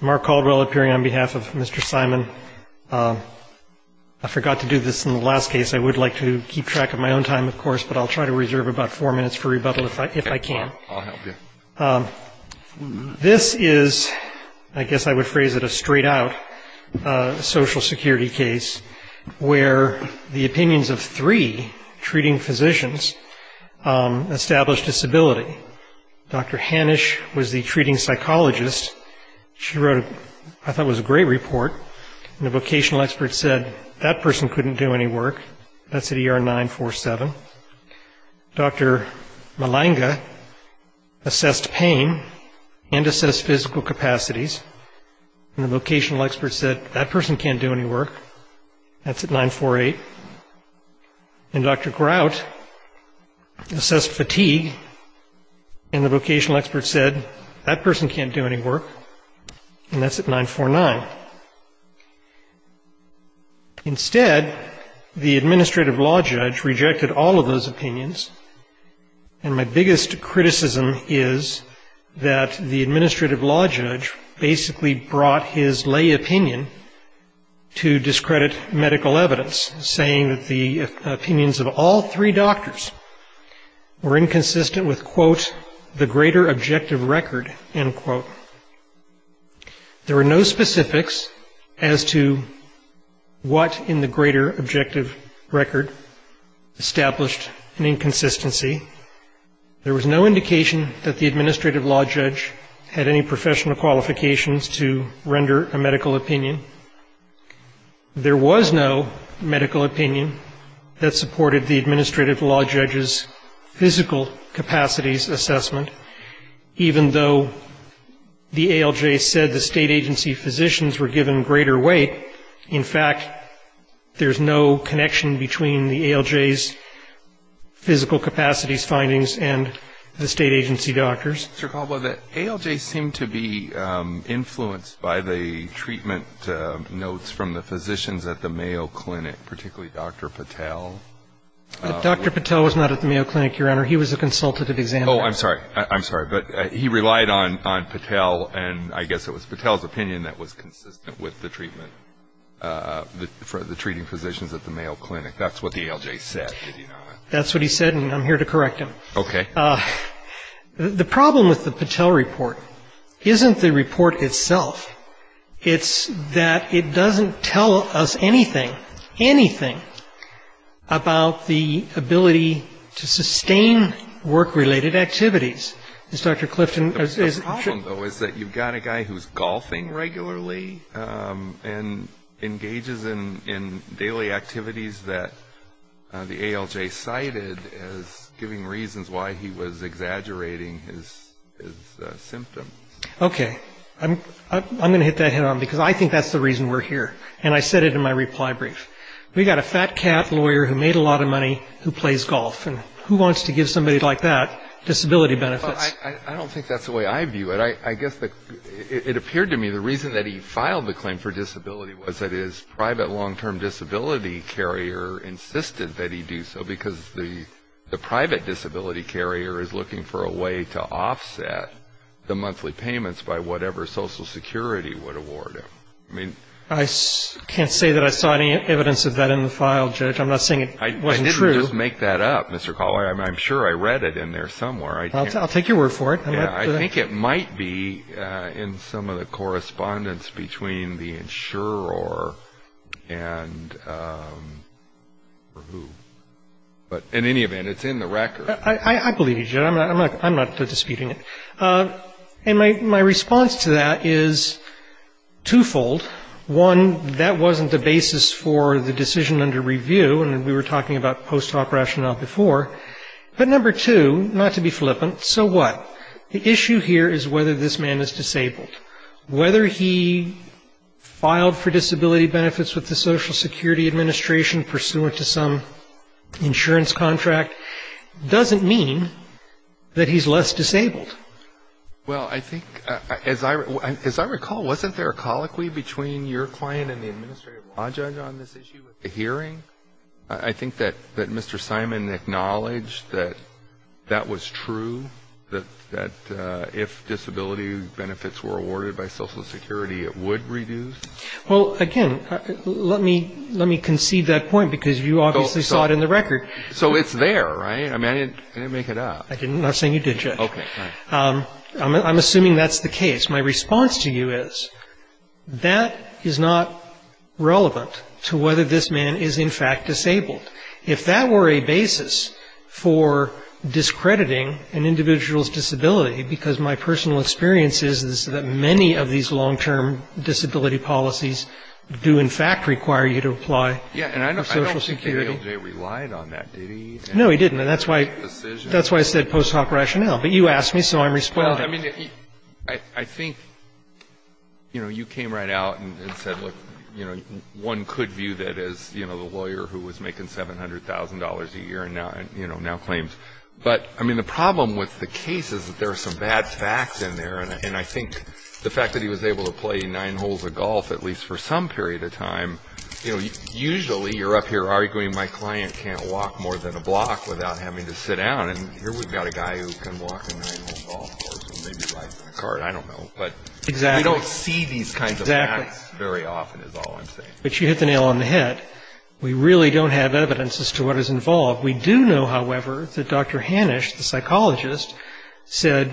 Mark Caldwell appearing on behalf of Mr. Simon. I forgot to do this in the last case. I would like to keep track of my own time, of course, but I'll try to reserve about four minutes for rebuttal if I can. I'll help you. This is, I guess I would phrase it a straight-out Social Security case, where the opinions of three treating physicians established disability. Dr. Hanisch was the treating psychologist. She wrote what I thought was a great report, and a vocational expert said that person couldn't do any work. That's at ER 947. Dr. Malanga assessed pain and assessed physical capacities, and the vocational expert said that person can't do any work. That's at 948. And Dr. Grout assessed fatigue, and the vocational expert said that person can't do any work, and that's at 949. Instead, the administrative law judge rejected all of those opinions, and my biggest criticism is that the administrative law judge basically brought his lay opinion to discredit medical evidence, saying that the opinions of all three doctors were inconsistent with, quote, the greater objective record, end quote. There were no specifics as to what in the greater objective record established an inconsistency. There was no indication that the administrative law judge had any professional qualifications to render a medical opinion. There was no medical opinion that supported the administrative law judge's physical capacities assessment, even though the ALJ said the state agency physicians were given greater weight. In fact, there's no connection between the ALJ's physical capacities findings and the state agency doctors. Dr. Caldwell, the ALJ seemed to be influenced by the treatment notes from the physicians at the Mayo Clinic, particularly Dr. Patel. Dr. Patel was not at the Mayo Clinic, Your Honor. He was a consultative examiner. Oh, I'm sorry. I'm sorry. But he relied on Patel, and I guess it was Patel's opinion that was consistent with the treatment for the treating physicians at the Mayo Clinic. That's what the ALJ said. That's what he said, and I'm here to correct him. Okay. The problem with the Patel report isn't the report itself. It's that it doesn't tell us anything, anything about the ability to sustain work-related activities. The problem, though, is that you've got a guy who's golfing regularly and engages in daily activities that the ALJ cited as giving reasons why he was exaggerating his symptoms. Okay. I'm going to hit that head-on, because I think that's the reason we're here, and I said it in my reply brief. We've got a fat-cat lawyer who made a lot of money who plays golf, and who wants to give somebody like that disability benefits? I don't think that's the way I view it. I guess it appeared to me the reason that he filed the claim for disability was that his private long-term disability carrier insisted that he do so, because the private disability carrier is looking for a way to offset the monthly payments by whatever Social Security would award him. I can't say that I saw any evidence of that in the file, Judge. I'm not saying it wasn't true. I didn't just make that up, Mr. Collier. I'm sure I read it in there somewhere. I'll take your word for it. Yeah. I think it might be in some of the correspondence between the insurer or who. But in any event, it's in the record. I believe you, Judge. I'm not disputing it. And my response to that is twofold. One, that wasn't the basis for the decision under review, and we were talking about post-op rationale before. But number two, not to be flippant, so what? The issue here is whether this man is disabled. Whether he filed for disability benefits with the Social Security Administration, pursuant to some insurance contract, doesn't mean that he's less disabled. Well, I think, as I recall, wasn't there a colloquy between your client and the administrative law judge on this issue at the hearing? I think that Mr. Simon acknowledged that that was true, that if disability benefits were awarded by Social Security, it would reduce. Well, again, let me concede that point because you obviously saw it in the record. So it's there, right? I mean, I didn't make it up. I'm not saying you did, Judge. Okay. I'm assuming that's the case. My response to you is that is not relevant to whether this man is, in fact, disabled. If that were a basis for discrediting an individual's disability, because my personal experience is that many of these long-term disability policies do, in fact, require you to apply for Social Security. Yeah, and I don't think ALJ relied on that, did he? No, he didn't, and that's why I said post-op rationale. But you asked me, so I'm responding. Well, I mean, I think, you know, you came right out and said, look, you know, one could view that as, you know, the lawyer who was making $700,000 a year and now claims. But, I mean, the problem with the case is that there are some bad facts in there, and I think the fact that he was able to play nine holes of golf, at least for some period of time, you know, usually you're up here arguing my client can't walk more than a block without having to sit down, and here we've got a guy who can walk a nine-hole golf course and maybe buy some cards, I don't know. But we don't see these kinds of facts very often is all I'm saying. But you hit the nail on the head. We really don't have evidence as to what is involved. We do know, however, that Dr. Hanisch, the psychologist, said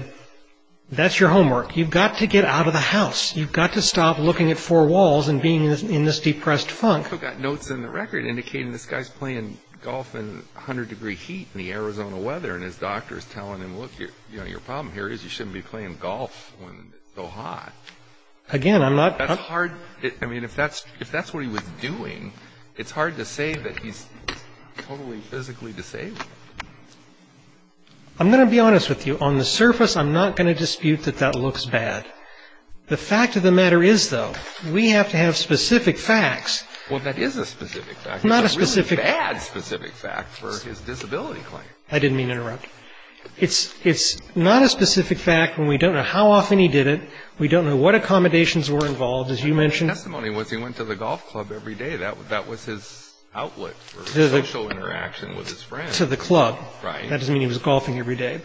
that's your homework. You've got to get out of the house. You've got to stop looking at four walls and being in this depressed funk. You've also got notes in the record indicating this guy's playing golf in 100-degree heat in the Arizona weather, and his doctor is telling him, look, you know, your problem here is you shouldn't be playing golf when it's so hot. Again, I'm not. That's hard. I mean, if that's what he was doing, it's hard to say that he's totally physically disabled. I'm going to be honest with you. On the surface, I'm not going to dispute that that looks bad. The fact of the matter is, though, we have to have specific facts. Well, that is a specific fact. It's not a specific fact. It's a really bad specific fact for his disability claim. I didn't mean to interrupt. It's not a specific fact, and we don't know how often he did it. We don't know what accommodations were involved, as you mentioned. His testimony was he went to the golf club every day. That was his outlet for social interaction with his friends. To the club. Right. That doesn't mean he was golfing every day.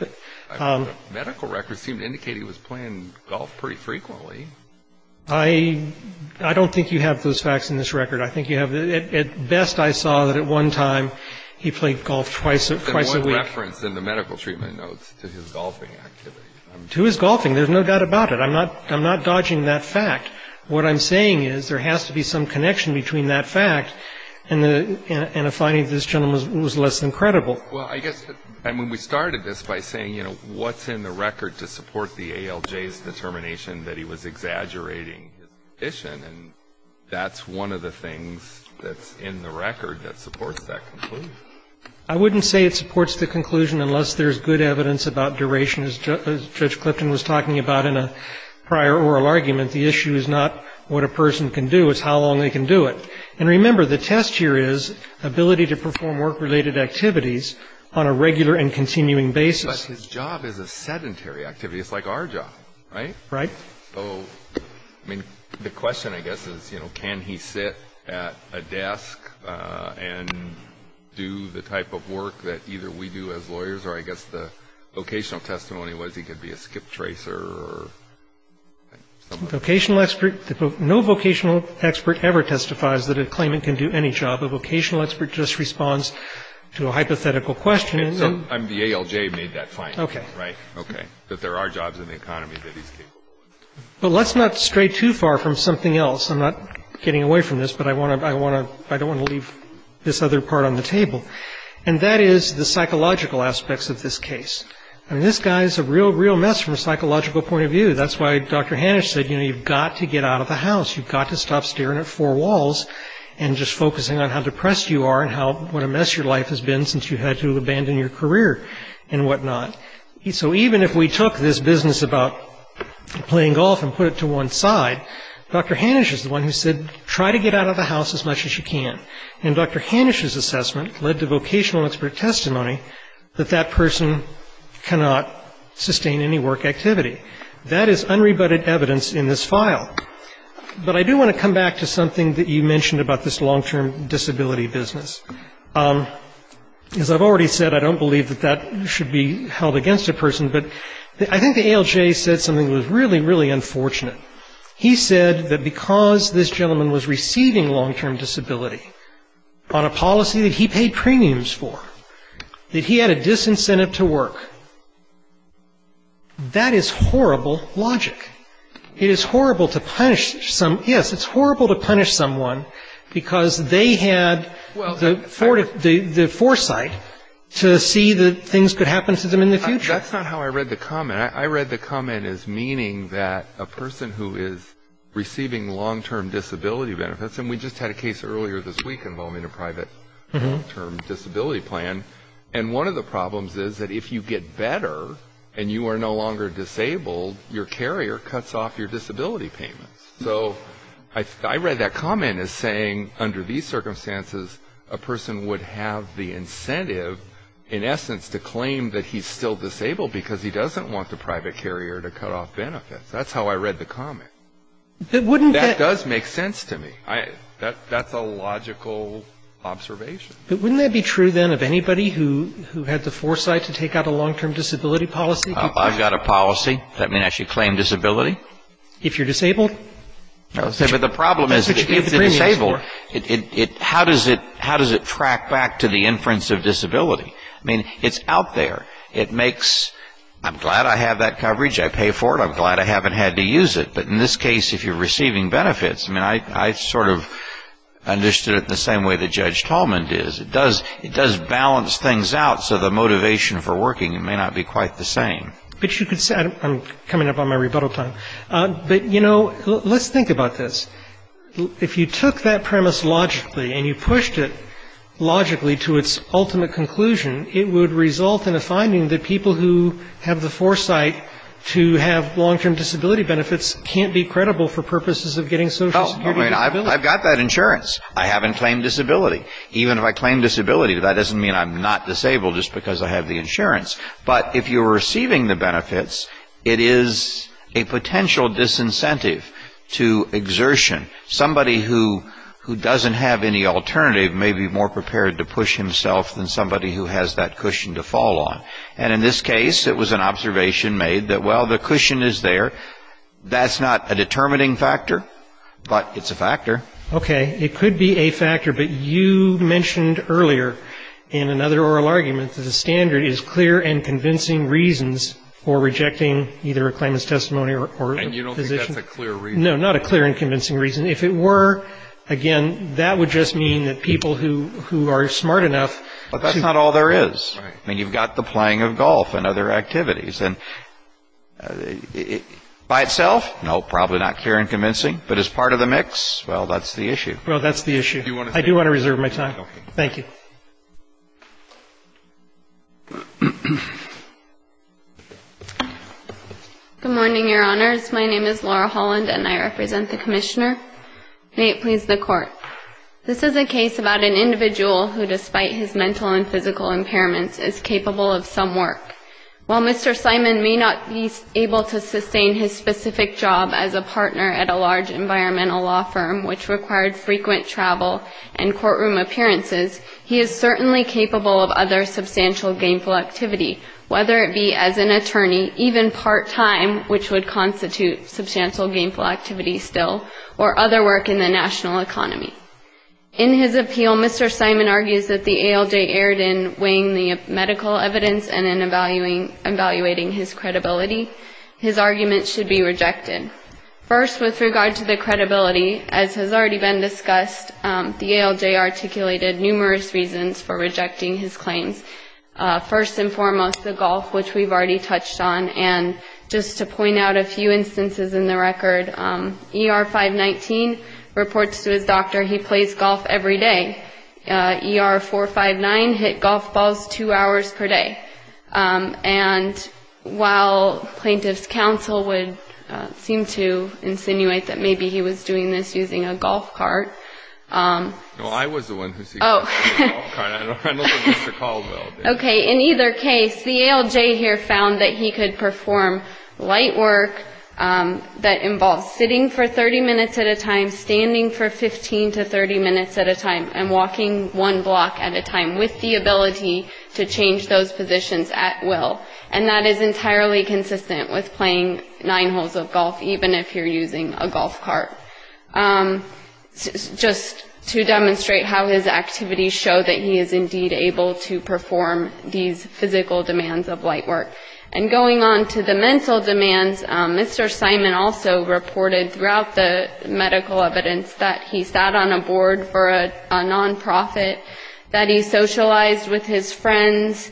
Medical records seem to indicate he was playing golf pretty frequently. I don't think you have those facts in this record. I think you have. At best, I saw that at one time he played golf twice a week. There's one reference in the medical treatment notes to his golfing activity. To his golfing. There's no doubt about it. I'm not dodging that fact. What I'm saying is there has to be some connection between that fact and a finding that this gentleman was less than credible. Well, I guess when we started this by saying, you know, what's in the record to support the ALJ's determination that he was exaggerating his condition, and that's one of the things that's in the record that supports that conclusion. I wouldn't say it supports the conclusion unless there's good evidence about duration, as Judge Clifton was talking about in a prior oral argument. The issue is not what a person can do. It's how long they can do it. And remember, the test here is ability to perform work-related activities on a regular and continuing basis. But his job is a sedentary activity. It's like our job, right? Right. So, I mean, the question, I guess, is, you know, can he sit at a desk and do the type of work that either we do as lawyers, or I guess the vocational testimony was he could be a skip tracer or something. No vocational expert ever testifies that a claimant can do any job. A vocational expert just responds to a hypothetical question. So the ALJ made that point. Okay. Right. Okay. That there are jobs in the economy that he's capable of. But let's not stray too far from something else. I'm not getting away from this, but I don't want to leave this other part on the table. And that is the psychological aspects of this case. I mean, this guy is a real, real mess from a psychological point of view. That's why Dr. Hanisch said, you know, you've got to get out of the house. You've got to stop staring at four walls and just focusing on how depressed you are and what a mess your life has been since you had to abandon your career and whatnot. So even if we took this business about playing golf and put it to one side, Dr. Hanisch is the one who said, try to get out of the house as much as you can. And Dr. Hanisch's assessment led to vocational expert testimony that that person cannot sustain any work activity. That is unrebutted evidence in this file. But I do want to come back to something that you mentioned about this long-term disability business. As I've already said, I don't believe that that should be held against a person, but I think the ALJ said something that was really, really unfortunate. He said that because this gentleman was receiving long-term disability on a policy that he paid premiums for, that he had a disincentive to work, that is horrible logic. It is horrible to punish someone because they had the foresight to see that things could happen to them in the future. That's not how I read the comment. I read the comment as meaning that a person who is receiving long-term disability benefits, and we just had a case earlier this week involving a private long-term disability plan, and one of the problems is that if you get better and you are no longer disabled, your carrier cuts off your disability payments. So I read that comment as saying under these circumstances, a person would have the incentive in essence to claim that he's still disabled because he doesn't want the private carrier to cut off benefits. That's how I read the comment. That does make sense to me. That's a logical observation. But wouldn't that be true, then, of anybody who had the foresight to take out a long-term disability policy? I've got a policy that may actually claim disability. If you're disabled? But the problem is if you're disabled, how does it track back to the inference of disability? I mean, it's out there. It makes, I'm glad I have that coverage. I pay for it. I'm glad I haven't had to use it. But in this case, if you're receiving benefits, I mean, I sort of understood it the same way that Judge Tallman did. It does balance things out, so the motivation for working may not be quite the same. But you could say, I'm coming up on my rebuttal time. But, you know, let's think about this. If you took that premise logically and you pushed it logically to its ultimate conclusion, it would result in a finding that people who have the foresight to have long-term disability benefits can't be credible for purposes of getting Social Security benefits. I've got that insurance. I haven't claimed disability. Even if I claim disability, that doesn't mean I'm not disabled just because I have the insurance. But if you're receiving the benefits, it is a potential disincentive to exertion. Somebody who doesn't have any alternative may be more prepared to push himself than somebody who has that cushion to fall on. And in this case, it was an observation made that, well, the cushion is there. That's not a determining factor, but it's a factor. Okay. It could be a factor. But you mentioned earlier in another oral argument that the standard is clear and convincing reasons for rejecting either a claimant's testimony or a position. And you don't think that's a clear reason? No, not a clear and convincing reason. If it were, again, that would just mean that people who are smart enough to go. But that's not all there is. I mean, you've got the playing of golf and other activities. And by itself, no, probably not clear and convincing. But as part of the mix, well, that's the issue. Well, that's the issue. I do want to reserve my time. Thank you. Good morning, Your Honors. My name is Laura Holland, and I represent the Commissioner. May it please the Court. This is a case about an individual who, despite his mental and physical impairments, is capable of some work. While Mr. Simon may not be able to sustain his specific job as a partner at a large environmental law firm, which required frequent travel and courtroom appearances, he is certainly capable of other substantial gainful activity, whether it be as an attorney, even part-time, which would constitute substantial gainful activity still, or other work in the national economy. In his appeal, Mr. Simon argues that the ALJ erred in weighing the medical evidence and in evaluating his credibility. His argument should be rejected. First, with regard to the credibility, as has already been discussed, the ALJ articulated numerous reasons for rejecting his claims. First and foremost, the golf, which we've already touched on. And just to point out a few instances in the record, ER-519 reports to his doctor he plays golf every day. ER-459 hit golf balls two hours per day. And while plaintiff's counsel would seem to insinuate that maybe he was doing this using a golf cart. No, I was the one who was using a golf cart. I don't remember Mr. Caldwell. Okay, in either case, the ALJ here found that he could perform light work that involves sitting for 30 minutes at a time, standing for 15 to 30 minutes at a time, and walking one block at a time with the ability to change those positions at will. And that is entirely consistent with playing nine holes of golf, even if you're using a golf cart. Just to demonstrate how his activities show that he is indeed able to perform these physical demands of light work. And going on to the mental demands, Mr. Simon also reported throughout the medical evidence that he sat on a board for a nonprofit, that he socialized with his friends,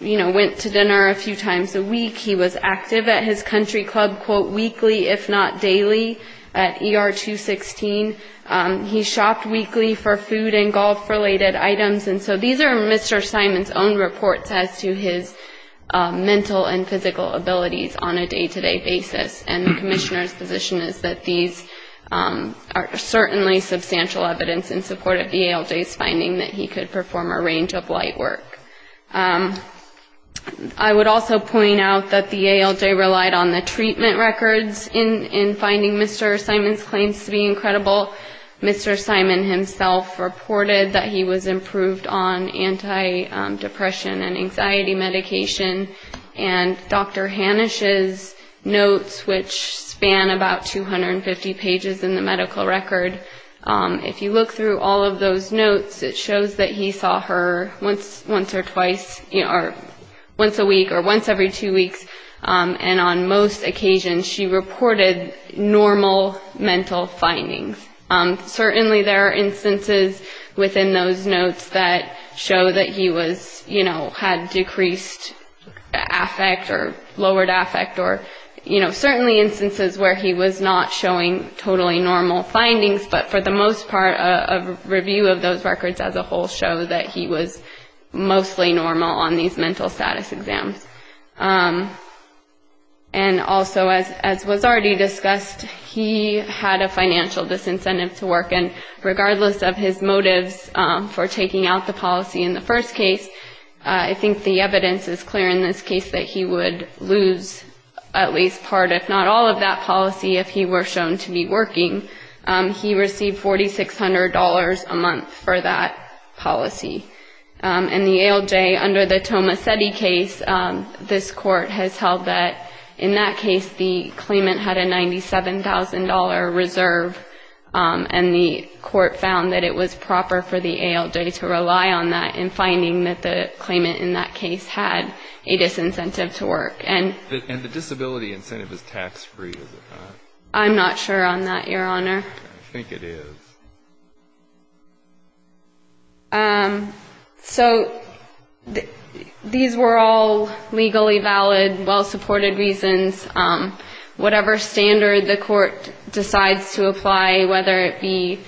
you know, went to dinner a few times a week. He was active at his country club, quote, weekly, if not daily, at ER-216. He shopped weekly for food and golf-related items. And so these are Mr. Simon's own reports as to his mental and physical abilities on a day-to-day basis. And the commissioner's position is that these are certainly substantial evidence in support of the ALJ's finding that he could perform a range of light work. I would also point out that the ALJ relied on the treatment records in finding Mr. Simon's claims to be incredible. Mr. Simon himself reported that he was improved on antidepressant and anxiety medication. And Dr. Hanisch's notes, which span about 250 pages in the medical record, if you look through all of those notes, it shows that he saw her once or twice, or once a week, or once every two weeks. And on most occasions, she reported normal mental findings. Certainly there are instances within those notes that show that he was, you know, had decreased affect or lowered affect, or, you know, certainly instances where he was not showing totally normal findings. But for the most part, a review of those records as a whole show that he was mostly normal on these mental status exams. And also, as was already discussed, he had a financial disincentive to work. And regardless of his motives for taking out the policy in the first case, I think the evidence is clear in this case that he would lose at least part, if not all, of that policy if he were shown to be working. He received $4,600 a month for that policy. And the ALJ, under the Tomasetti case, this court has held that in that case the claimant had a $97,000 reserve, and the court found that it was proper for the ALJ to rely on that in finding that the claimant in that case had a disincentive to work. And the disability incentive is tax-free, is it not? I'm not sure on that, Your Honor. I think it is. So these were all legally valid, well-supported reasons. Whatever standard the court decides to apply, whether it be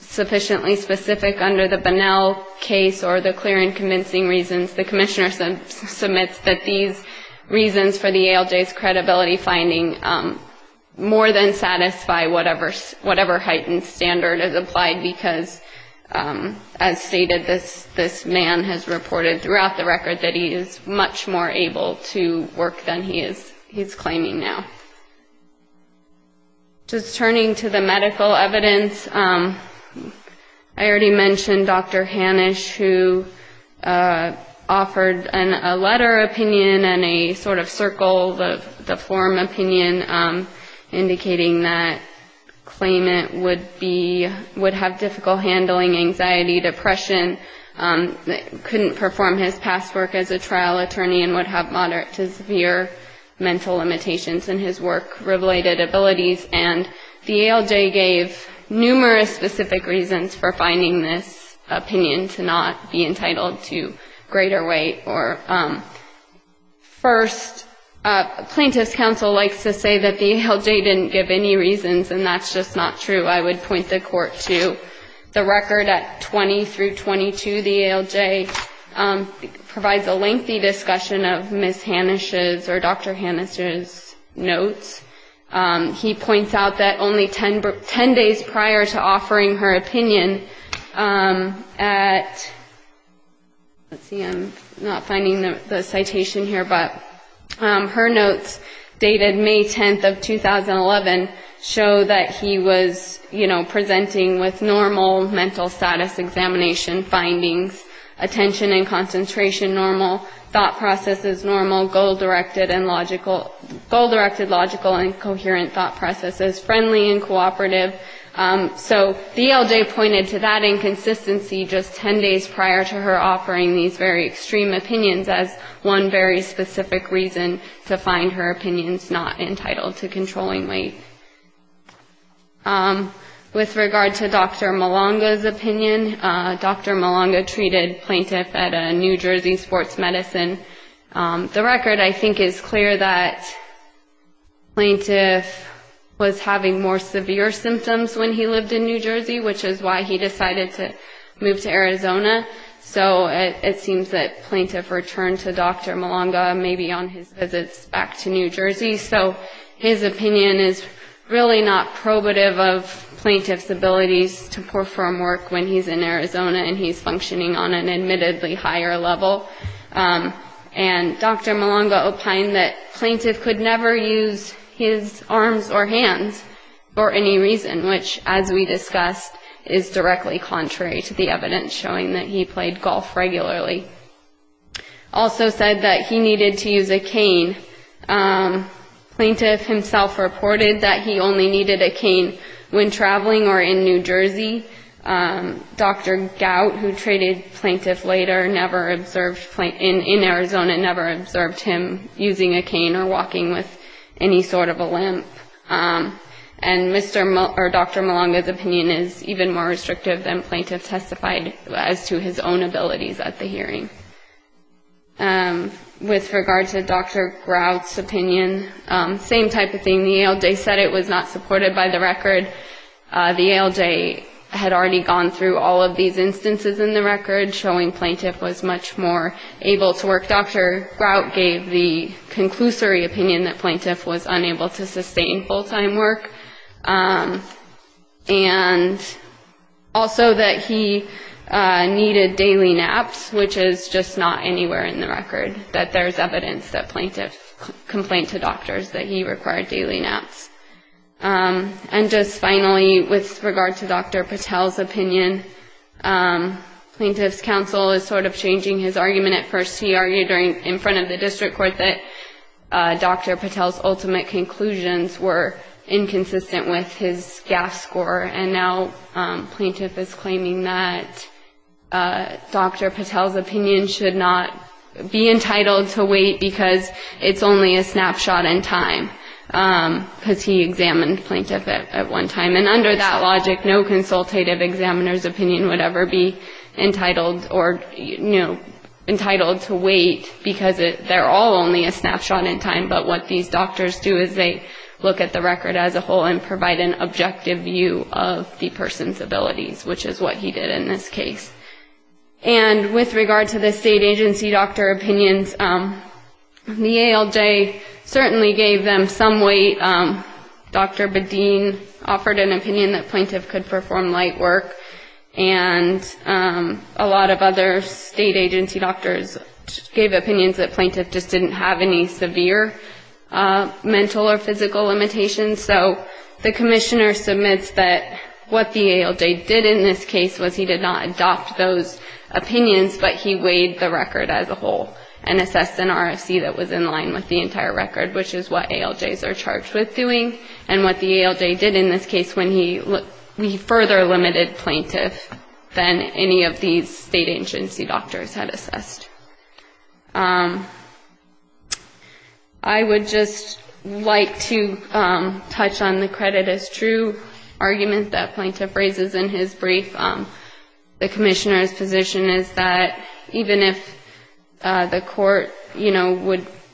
sufficiently specific under the Bunnell case or the clear and convincing reasons, the commissioner submits that these reasons for the ALJ's credibility finding more than satisfy whatever heightened standards the court has. And this court has applied because, as stated, this man has reported throughout the record that he is much more able to work than he is claiming now. Just turning to the medical evidence, I already mentioned Dr. Hanisch, who offered a letter opinion and a sort of circle, the form opinion, indicating that the claimant would have difficult handling, anxiety, depression, couldn't perform his past work as a trial attorney and would have moderate to severe mental limitations in his work-related abilities. And the ALJ gave numerous specific reasons for finding this opinion to not be entitled to greater weight. First, plaintiff's counsel likes to say that the ALJ didn't give any reasons, and that's just not true. I would point the court to the record at 20 through 22. The ALJ provides a lengthy discussion of Ms. Hanisch's or Dr. Hanisch's notes. He points out that only 10 days prior to offering her opinion at, let's see, I'm not quite sure. I'm not finding the citation here, but her notes dated May 10th of 2011 show that he was, you know, presenting with normal mental status examination findings, attention and concentration normal, thought processes normal, goal-directed logical and coherent thought processes, friendly and cooperative. So the ALJ pointed to that inconsistency just 10 days prior to her offering these very extreme opinions as one very specific reason to find her opinions not entitled to controlling weight. With regard to Dr. Malanga's opinion, Dr. Malanga treated plaintiff at a New Jersey sports medicine. The record I think is clear that plaintiff was having more severe symptoms when he lived in New Jersey, which is why he decided to move to Arizona. So it seems that plaintiff returned to Dr. Malanga maybe on his visits back to New Jersey. So his opinion is really not probative of plaintiff's abilities to perform work when he's in Arizona and he's functioning on an admittedly higher level. And Dr. Malanga opined that plaintiff could never use his arms or hands for any reason, which as we discussed is directly contrary to the evidence showing that he played golf regularly. Also said that he needed to use a cane. Plaintiff himself reported that he only needed a cane when traveling or in New Jersey. Dr. Gout, who treated plaintiff later, never observed, in Arizona never observed him using a cane or walking with any sort of a limp. And Dr. Malanga's opinion is even more restrictive than plaintiff testified as to his own abilities at the hearing. With regard to Dr. Grout's opinion, same type of thing. The ALJ said it was not supported by the record. The ALJ had already gone through all of these instances in the record showing plaintiff was much more able to work. Dr. Grout gave the conclusory opinion that plaintiff was unable to sustain full-time work. And also that he needed daily naps, which is just not anywhere in the record, that there's evidence that plaintiff complained to doctors that he required daily naps. And just finally, with regard to Dr. Patel's opinion, plaintiff's counsel is sort of changing his argument at first. He argued in front of the district court that Dr. Patel's ultimate conclusions were inconsistent with his GAF score. And now plaintiff is claiming that Dr. Patel's opinion should not be entitled to wait because it's only a snapshot in time. Because he examined plaintiff at one time. And under that logic, no consultative examiner's opinion would ever be entitled to wait because they're all only a snapshot in time. But what these doctors do is they look at the record as a whole and provide an objective view of the person's abilities, which is what he did in this case. And with regard to the state agency doctor opinions, the ALJ certainly gave them some weight. Dr. Bedeen offered an opinion that plaintiff could perform light work. And a lot of other state agency doctors gave opinions that plaintiff just didn't have any severe mental or physical limitations. So the commissioner submits that what the ALJ did in this case was he did not adopt those opinions, but he weighed the record as a whole and assessed an RFC that was in line with the entire record, which is what ALJs are charged with doing. And what the ALJ did in this case when he further limited plaintiff than any of these state agency doctors had assessed. I would just like to touch on the credit as true argument that plaintiff raises in his brief. The commissioner's position is that even if the court, you know,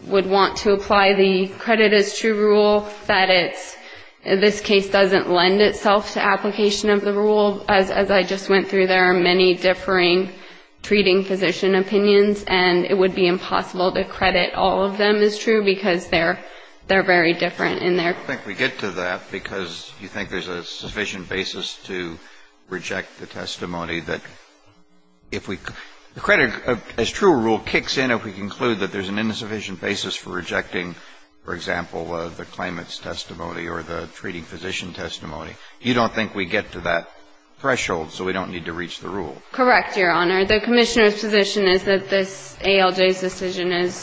would want to apply the credit as true rule, that it's, this case doesn't lend itself to application of the rule. As I just went through, there are many differing treating physician opinions, and it would be impossible to credit all of them as true, because they're very different in their And I don't think we get to that, because you think there's a sufficient basis to reject the testimony that if we, the credit as true rule kicks in if we conclude that there's an insufficient basis for rejecting, for example, the claimant's testimony or the treating physician testimony. You don't think we get to that threshold, so we don't need to reach the rule? Correct, Your Honor. The commissioner's position is that this ALJ's decision is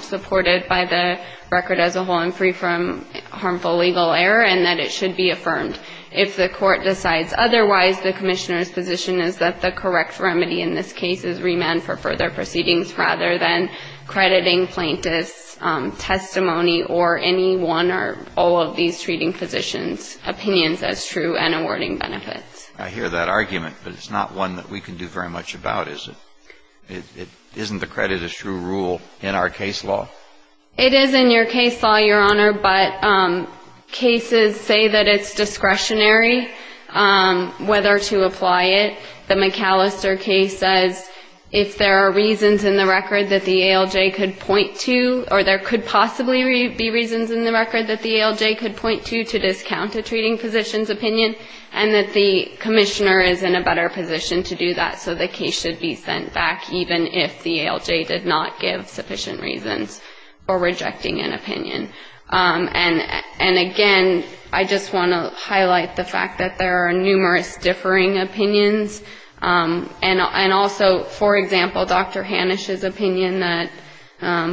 supported by the record as a whole and free from harmful legal error, and that it should be affirmed. If the court decides otherwise, the commissioner's position is that the correct remedy in this case is remand for further proceedings rather than crediting plaintiff's testimony or any one or all of these treating physicians' opinions as true and awarding benefits. I hear that argument, but it's not one that we can do very much about, is it? Isn't the credit as true rule in our case law? It is in your case law, Your Honor, but cases say that it's discretionary whether to apply it. The McAllister case says if there are reasons in the record that the ALJ could point to, or there could possibly be reasons in the record that the ALJ could reject an opinion, and that the commissioner is in a better position to do that, so the case should be sent back even if the ALJ did not give sufficient reasons for rejecting an opinion. And again, I just want to highlight the fact that there are numerous differing opinions, and also, for example, Dr. Hanisch's opinion that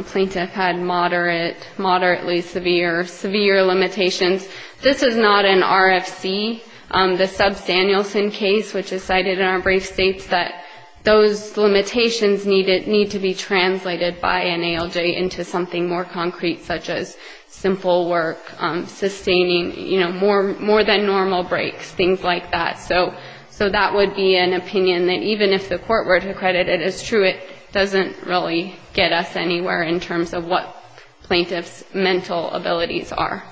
plaintiff had moderately severe limitations. This is not an RFC. The Substanielson case, which is cited in our brief, states that those limitations need to be translated by an ALJ into something more concrete, such as simple work, sustaining, you know, more than normal breaks, things like that. So that would be an opinion that even if the court were to credit it as true, it doesn't really get us anywhere in terms of what plaintiff's mental abilities are.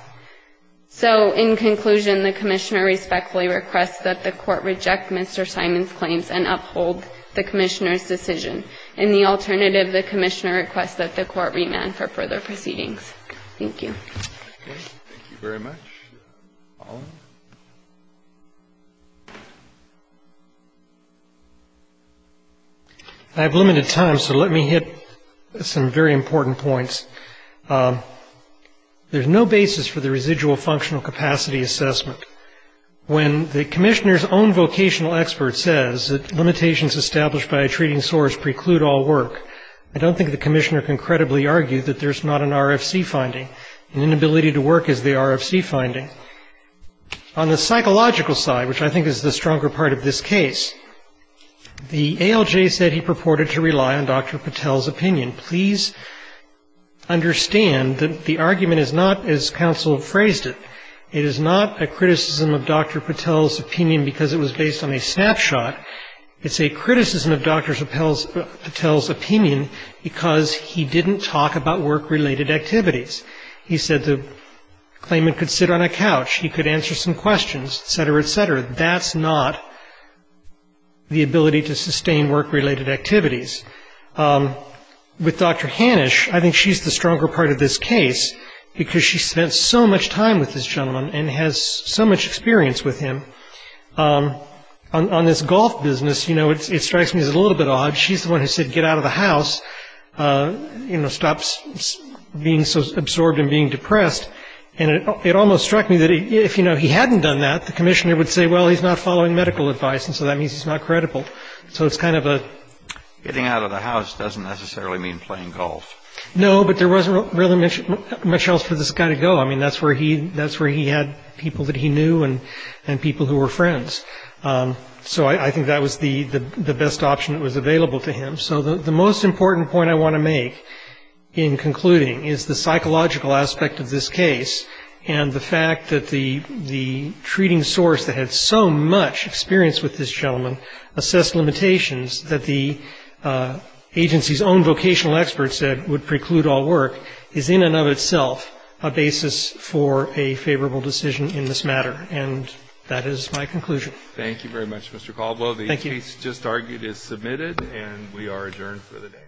So in conclusion, the commissioner respectfully requests that the court reject Mr. Simon's claims and uphold the commissioner's decision. In the alternative, the commissioner requests that the court remand for further proceedings. Thank you. Thank you very much. Thank you. I have limited time, so let me hit some very important points. There's no basis for the residual functional capacity assessment. When the commissioner's own vocational expert says that limitations established by a treating source preclude all work, I don't think the commissioner can credibly argue that there's not an RFC finding, an inability to work as the RFC finding. On the psychological side, which I think is the stronger part of this case, the ALJ said he purported to rely on Dr. Patel's opinion. Please understand that the argument is not, as counsel phrased it, it is not a criticism of Dr. Patel's opinion because it was based on a snapshot. It's a criticism of Dr. Patel's opinion because he didn't talk about work-related activities. He said the claimant could sit on a couch, he could answer some questions, et cetera, et cetera. That's not the ability to sustain work-related activities. With Dr. Hanisch, I think she's the stronger part of this case because she spent so much time with this gentleman and has so much experience with him, on this golf business, you know, it strikes me as a little bit odd. She's the one who said, get out of the house, you know, stop being so absorbed in being depressed. And it almost struck me that if, you know, he hadn't done that, the commissioner would say, well, he's not following medical advice, and so that means he's not credible. So it's kind of a... That's where he had people that he knew and people who were friends. So I think that was the best option that was available to him. So the most important point I want to make in concluding is the psychological aspect of this case and the fact that the treating source that had so much experience with this gentleman assessed limitations that the agency's own vocational experts said would preclude all work is in and of itself a basis for a favorable decision in this matter. And that is my conclusion. Thank you very much, Mr. Caldwell. The case just argued is submitted, and we are adjourned for the day.